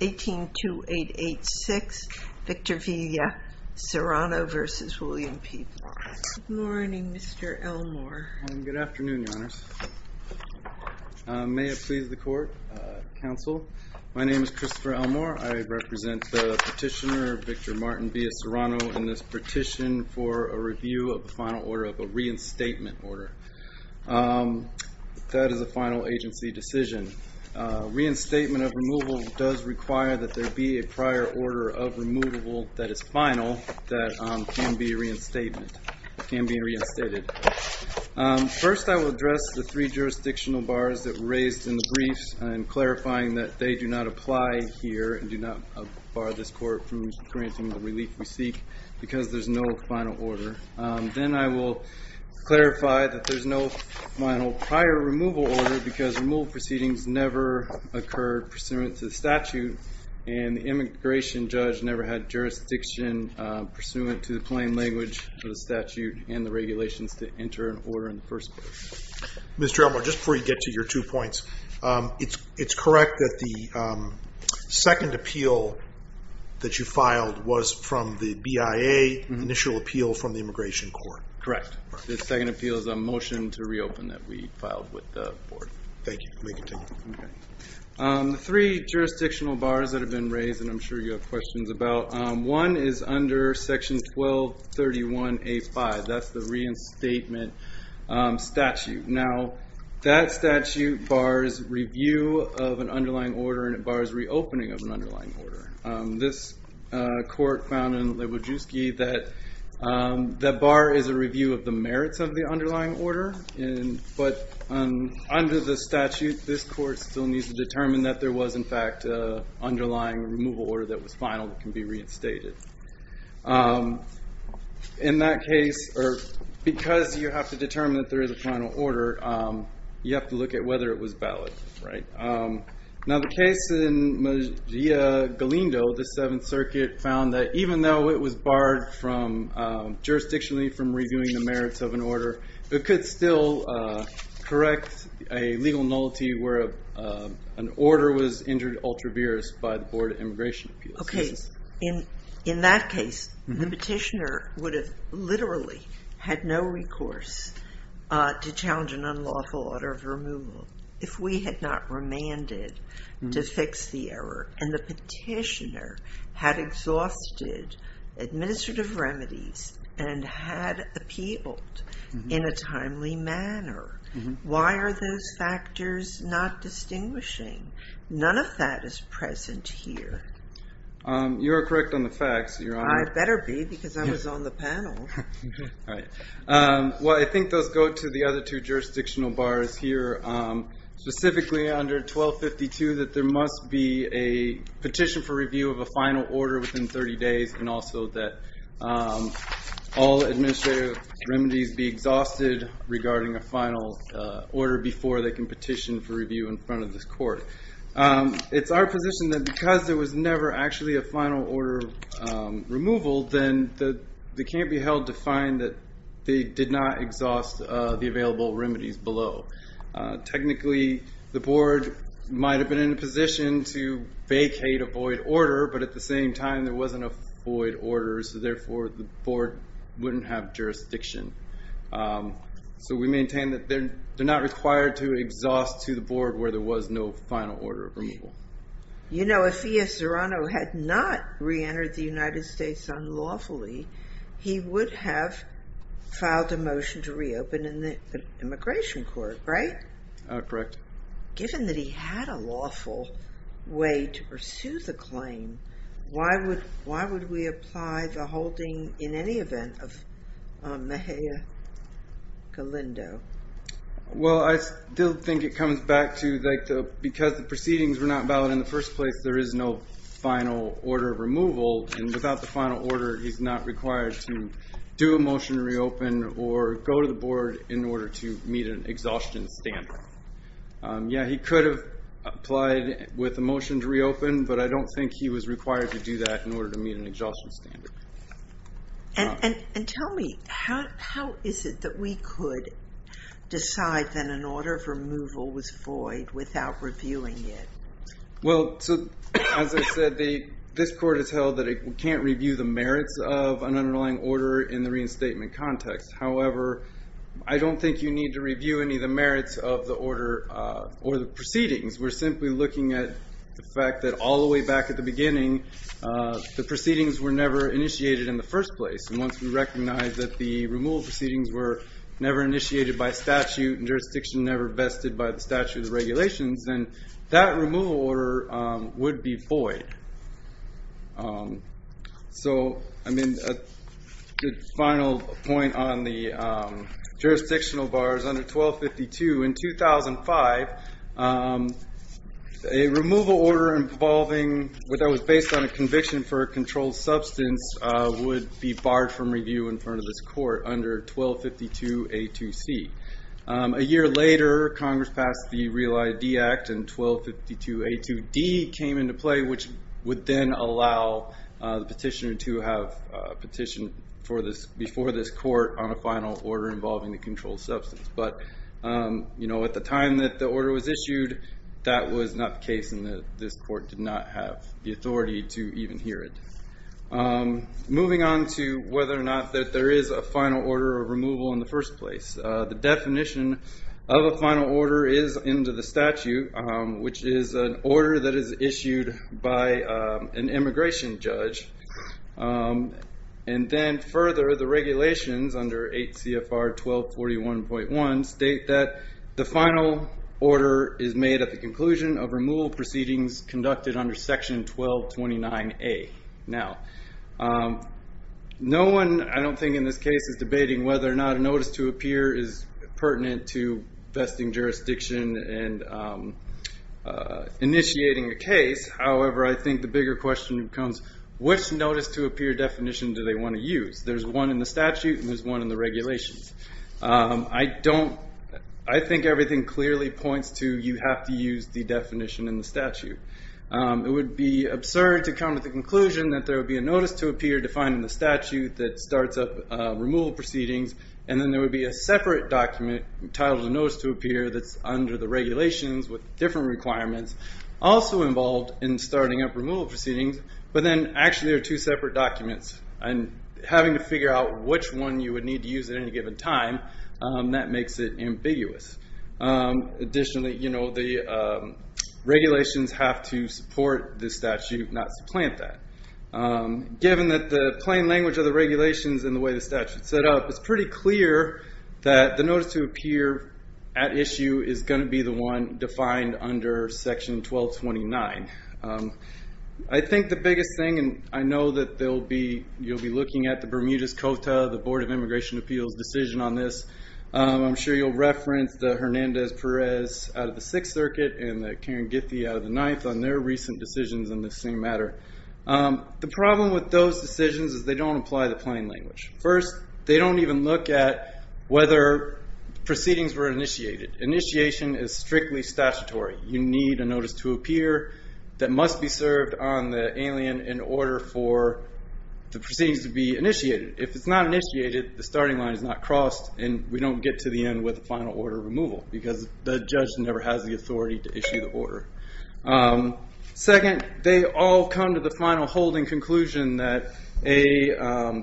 182886 Victor Villa Serrano v. William P. Barr Good morning Mr. Elmore. Good afternoon Your Honors. May it please the court, counsel. My name is Christopher Elmore. I represent the petitioner Victor Martin Villa Serrano in this petition for a review of the final order of a reinstatement order. That is a final agency decision. Reinstatement of removal does require that there be a prior order of removable that is final that can be reinstated. First I will address the three jurisdictional bars that were raised in the briefs in clarifying that they do not apply here and do not bar this court from granting the relief we seek because there is no final order. Then I will clarify that there is no final prior removal order because removal proceedings never occurred pursuant to the statute and the immigration judge never had jurisdiction pursuant to the plain language of the statute and the regulations to enter an order in the first place. Mr. Elmore, just before you get to your two points, it's correct that the second appeal that you filed was from the BIA initial appeal from the immigration court. Correct. The second appeal is a motion to reopen that we filed with the board. Thank you. May continue. Three jurisdictional bars that have been raised and I'm sure you have questions about. One is under section 1231A5. That's the reinstatement statute. Now that statute bars review of an underlying order and it bars reopening of an underlying order. This court found in Lewajewski that the bar is a review of the merits of the underlying order. But under the statute, this court still needs to determine that there was in fact an underlying removal order that was final that can be reinstated. In that case, because you have to determine that there is a final order, you have to look at whether it was valid. Right. Now the case in Galindo, the Seventh Circuit, found that even though it was barred from jurisdictionally from reviewing the merits of an order, it could still correct a legal nullity where an order was injured ultraviarious by the Board of Immigration Appeals. Okay. In that case, the petitioner would have literally had no recourse to challenge an unlawful order of removal if we had not remanded to fix the error. And the petitioner had exhausted administrative remedies and had appealed in a timely manner. Why are those factors not distinguishing? None of that is present here. You are correct on the facts, Your Honor. I better be because I was on the panel. Well, I think those go to the other two jurisdictional bars here. Specifically, under 1252, that there must be a petition for review of a final order within 30 days and also that all administrative remedies be exhausted regarding a final order before they can petition for review in front of this court. It's our position that because there was never actually a final order removal, then they can't be held to find that they did not exhaust the available remedies below. Technically, the board might have been in a position to vacate a void order, but at the same time, there wasn't a void order. So therefore, the board wouldn't have jurisdiction. So we maintain that they're not required to exhaust to the board where there was no final order of removal. You know, if E.S. Zorano had not reentered the United States unlawfully, he would have filed a motion to reopen in the immigration court, right? Correct. Given that he had a lawful way to pursue the claim, why would we apply the holding in any event of Mejia-Galindo? Well, I still think it comes back to that because the proceedings were not valid in the first place, there is no final order of removal. And without the final order, he's not required to do a motion to reopen or go to the board in order to meet an exhaustion standard. Yeah, he could have applied with a motion to reopen, but I don't think he was required to do that in order to meet an exhaustion standard. And tell me, how is it that we could decide that an order of removal was void without reviewing it? Well, as I said, this court has held that it can't review the merits of an underlying order in the reinstatement context. However, I don't think you need to review any of the merits of the order or the proceedings. We're simply looking at the fact that all the way back at the beginning, the proceedings were never initiated in the first place. And once we recognize that the removal proceedings were never initiated by statute and jurisdiction never vested by the statute of regulations, then that removal order would be void. So, I mean, a final point on the jurisdictional bars under 1252. In 2005, a removal order involving what was based on a conviction for a controlled substance would be barred from review in front of this court under 1252A2C. A year later, Congress passed the Real ID Act and 1252A2D came into play, which would then allow the petitioner to have a petition before this court on a final order involving the controlled substance. But at the time that the order was issued, that was not the case, and this court did not have the authority to even hear it. Moving on to whether or not that there is a final order of removal in the first place. The definition of a final order is into the statute, which is an order that is issued by an immigration judge. And then further, the regulations under 8 CFR 1241.1 state that the final order is made at the conclusion of removal proceedings conducted under section 1229A. Now, no one, I don't think in this case, is debating whether or not a notice to appear is pertinent to vesting jurisdiction and initiating a case. However, I think the bigger question becomes, which notice to appear definition do they want to use? There's one in the statute and there's one in the regulations. I think everything clearly points to you have to use the definition in the statute. It would be absurd to come to the conclusion that there would be a notice to appear defined in the statute that starts up removal proceedings, and then there would be a separate document titled a notice to appear that's under the regulations with different requirements, also involved in starting up removal proceedings, but then actually are two separate documents. And having to figure out which one you would need to use at any given time, that makes it ambiguous. Additionally, the regulations have to support the statute, not supplant that. Given that the plain language of the regulations and the way the statute is set up, it's pretty clear that the notice to appear at issue is going to be the one defined under section 1229. I think the biggest thing, and I know that you'll be looking at the Bermuda's Cota, the Board of Immigration Appeals decision on this. I'm sure you'll reference the Hernandez Perez out of the Sixth Circuit and the Karen Giffey out of the Ninth on their recent decisions on this same matter. The problem with those decisions is they don't apply the plain language. First, they don't even look at whether proceedings were initiated. Initiation is strictly statutory. You need a notice to appear that must be served on the alien in order for the proceedings to be initiated. If it's not initiated, the starting line is not crossed, and we don't get to the end with a final order of removal because the judge never has the authority to issue the order. Second, they all come to the final holding conclusion that a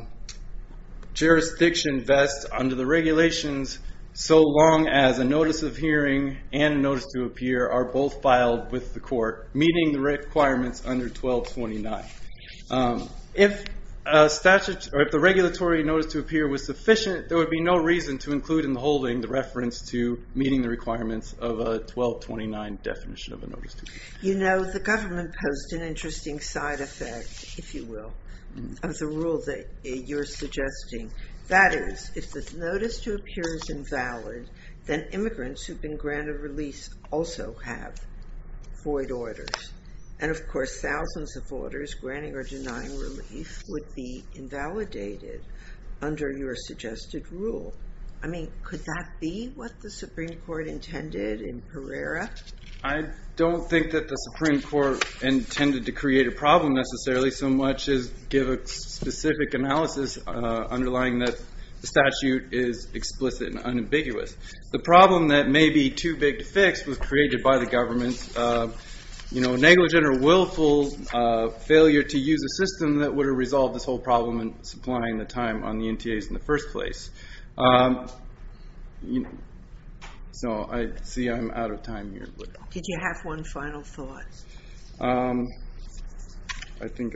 jurisdiction vests under the regulations so long as a notice of hearing and a notice to appear are both filed with the court, meeting the requirements under 1229. If the regulatory notice to appear was sufficient, there would be no reason to include in the holding the reference to meeting the requirements of a 1229 definition of a notice to appear. You know, the government posed an interesting side effect, if you will, of the rule that you're suggesting. That is, if the notice to appear is invalid, then immigrants who've been granted release also have void orders. And, of course, thousands of orders granting or denying relief would be invalidated under your suggested rule. I mean, could that be what the Supreme Court intended in Pereira? I don't think that the Supreme Court intended to create a problem, necessarily, so much as give a specific analysis underlying that the statute is explicit and unambiguous. The problem that may be too big to fix was created by the government's, you know, negligent or willful failure to use a system that would have resolved this whole problem in supplying the time on the NTAs in the first place. So, I see I'm out of time here. Did you have one final thought? I think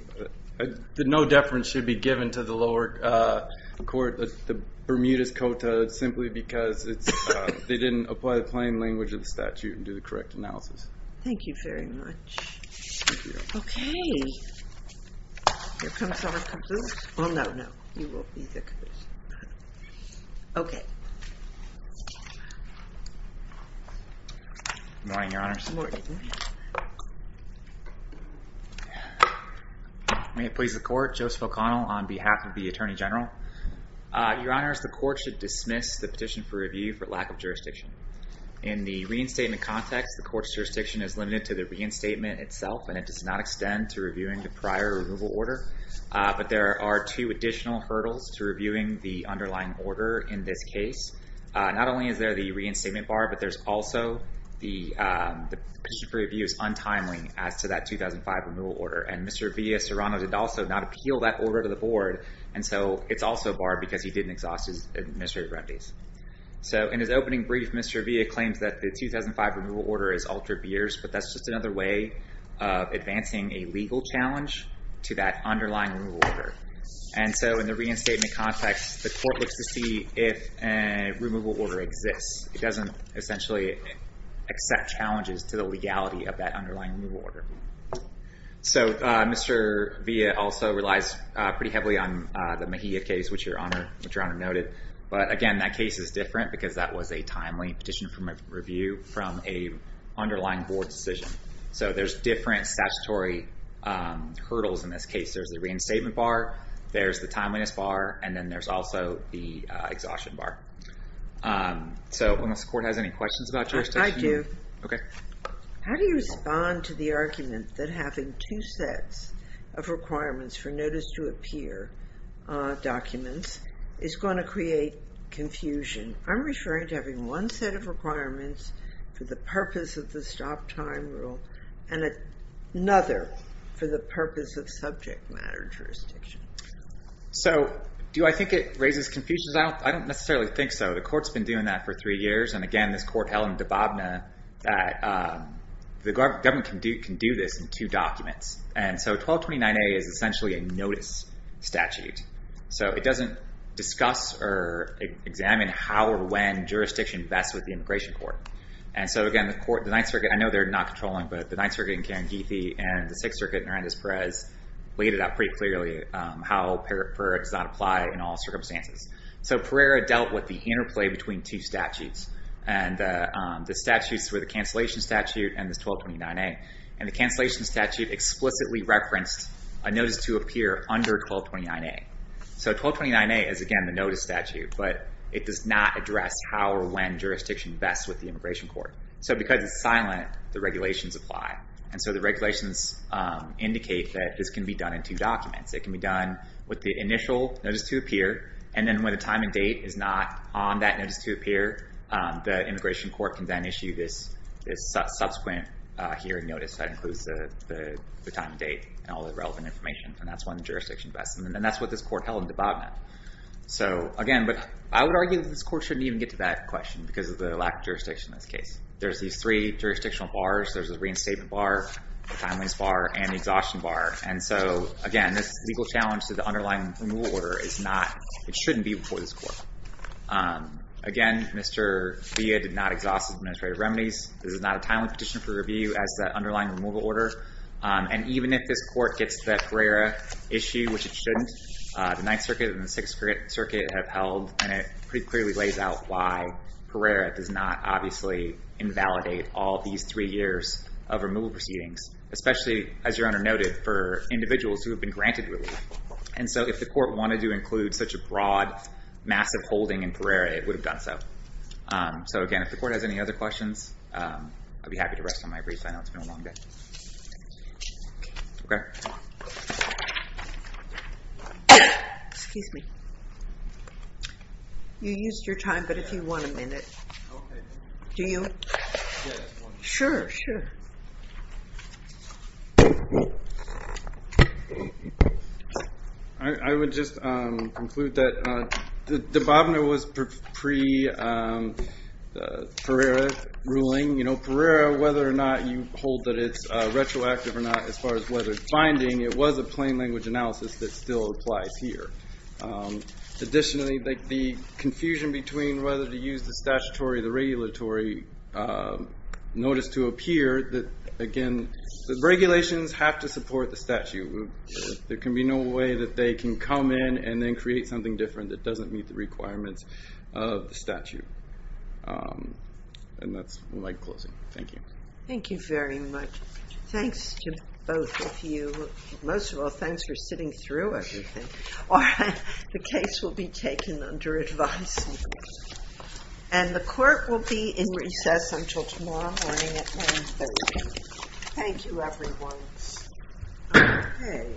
that no deference should be given to the lower court, the Bermudez Cota, simply because they didn't apply the plain language of the statute and do the correct analysis. Thank you very much. Okay. Here comes someone. Oh, no, no. You will be the judge. Okay. Good morning, Your Honors. Good morning. May it please the Court, Joseph O'Connell on behalf of the Attorney General. Your Honors, the Court should dismiss the petition for review for lack of jurisdiction. In the reinstatement context, the Court's jurisdiction is limited to the reinstatement itself, and it does not extend to reviewing the prior removal order. But there are two additional hurdles to reviewing the underlying order in this case. Not only is there the reinstatement bar, but there's also the petition for review is untimely as to that 2005 removal order. And Mr. Villa-Serrano did also not appeal that order to the Board. And so it's also barred because he didn't exhaust his administrative remedies. So in his opening brief, Mr. Villa-Serrano claims that the 2005 removal order has altered years, but that's just another way of advancing a legal challenge to that underlying removal order. And so in the reinstatement context, the Court looks to see if a removal order exists. It doesn't essentially accept challenges to the legality of that underlying removal order. So Mr. Villa-Serrano also relies pretty heavily on the Mejia case, which Your Honor noted. But again, that case is different because that was a timely petition for review from an underlying Board decision. So there's different statutory hurdles in this case. There's the reinstatement bar, there's the timeliness bar, and then there's also the exhaustion bar. So unless the Court has any questions about jurisdiction? I do. Okay. How do you respond to the argument that having two sets of requirements for notice-to-appear documents is going to create confusion? I'm referring to having one set of requirements for the purpose of the stop-time rule and another for the purpose of subject matter jurisdiction. So do I think it raises confusions? I don't necessarily think so. The Court's been doing that for three years. And again, this Court held in Dababna that the government can do this in two documents. And so 1229A is essentially a notice statute. So it doesn't discuss or examine how or when jurisdiction vests with the Immigration Court. And so again, the Ninth Circuit, I know they're not controlling, but the Ninth Circuit in Caranguife and the Sixth Circuit in Hernandez-Perez laid it out pretty clearly how PERA does not apply in all circumstances. So PERA dealt with the interplay between two statutes. And the statutes were the cancellation statute and the 1229A. And the cancellation statute explicitly referenced a notice-to-appear under 1229A. So 1229A is again the notice statute, but it does not address how or when jurisdiction vests with the Immigration Court. So because it's silent, the regulations apply. And so the regulations indicate that this can be done in two documents. It can be done with the initial notice-to-appear. And then when the time and date is not on that notice-to-appear, the Immigration Court can then issue this subsequent hearing notice that includes the time and date and all the relevant information, and that's when the jurisdiction vests. And that's what this Court held in Dababna. So again, I would argue that this Court shouldn't even get to that question because of the lack of jurisdiction in this case. There's these three jurisdictional bars. There's the reinstatement bar, the timelines bar, and the exhaustion bar. And so, again, this legal challenge to the underlying removal order is not, it shouldn't be before this Court. Again, Mr. Villa did not exhaust his administrative remedies. This is not a timely petition for review as the underlying removal order. And even if this Court gets to that Pereira issue, which it shouldn't, the Ninth Circuit and the Sixth Circuit have held, and it pretty clearly lays out why Pereira does not obviously invalidate all these three years of removal proceedings, especially, as Your Honor noted, for individuals who have been granted relief. And so if the Court wanted to include such a broad, massive holding in Pereira, it would have done so. So again, if the Court has any other questions, I'd be happy to rest on my brief. I know it's been a long day. Okay. Excuse me. You used your time, but if you want a minute. Do you? Sure, sure. I would just conclude that the debauvner was pre-Pereira ruling. You know, Pereira, whether or not you hold that it's retroactive or not, as far as whether it's binding, it was a plain language analysis that still applies here. Additionally, the confusion between whether to use the statutory or the regulatory, notice to appear that, again, the regulations have to support the statute. There can be no way that they can come in and then create something different that doesn't meet the requirements of the statute. And that's my closing. Thank you. Thank you very much. Thanks to both of you. Most of all, thanks for sitting through everything. The case will be taken under advice. And the Court will be in recess until tomorrow morning at 9.30. Thank you, everyone. Okay.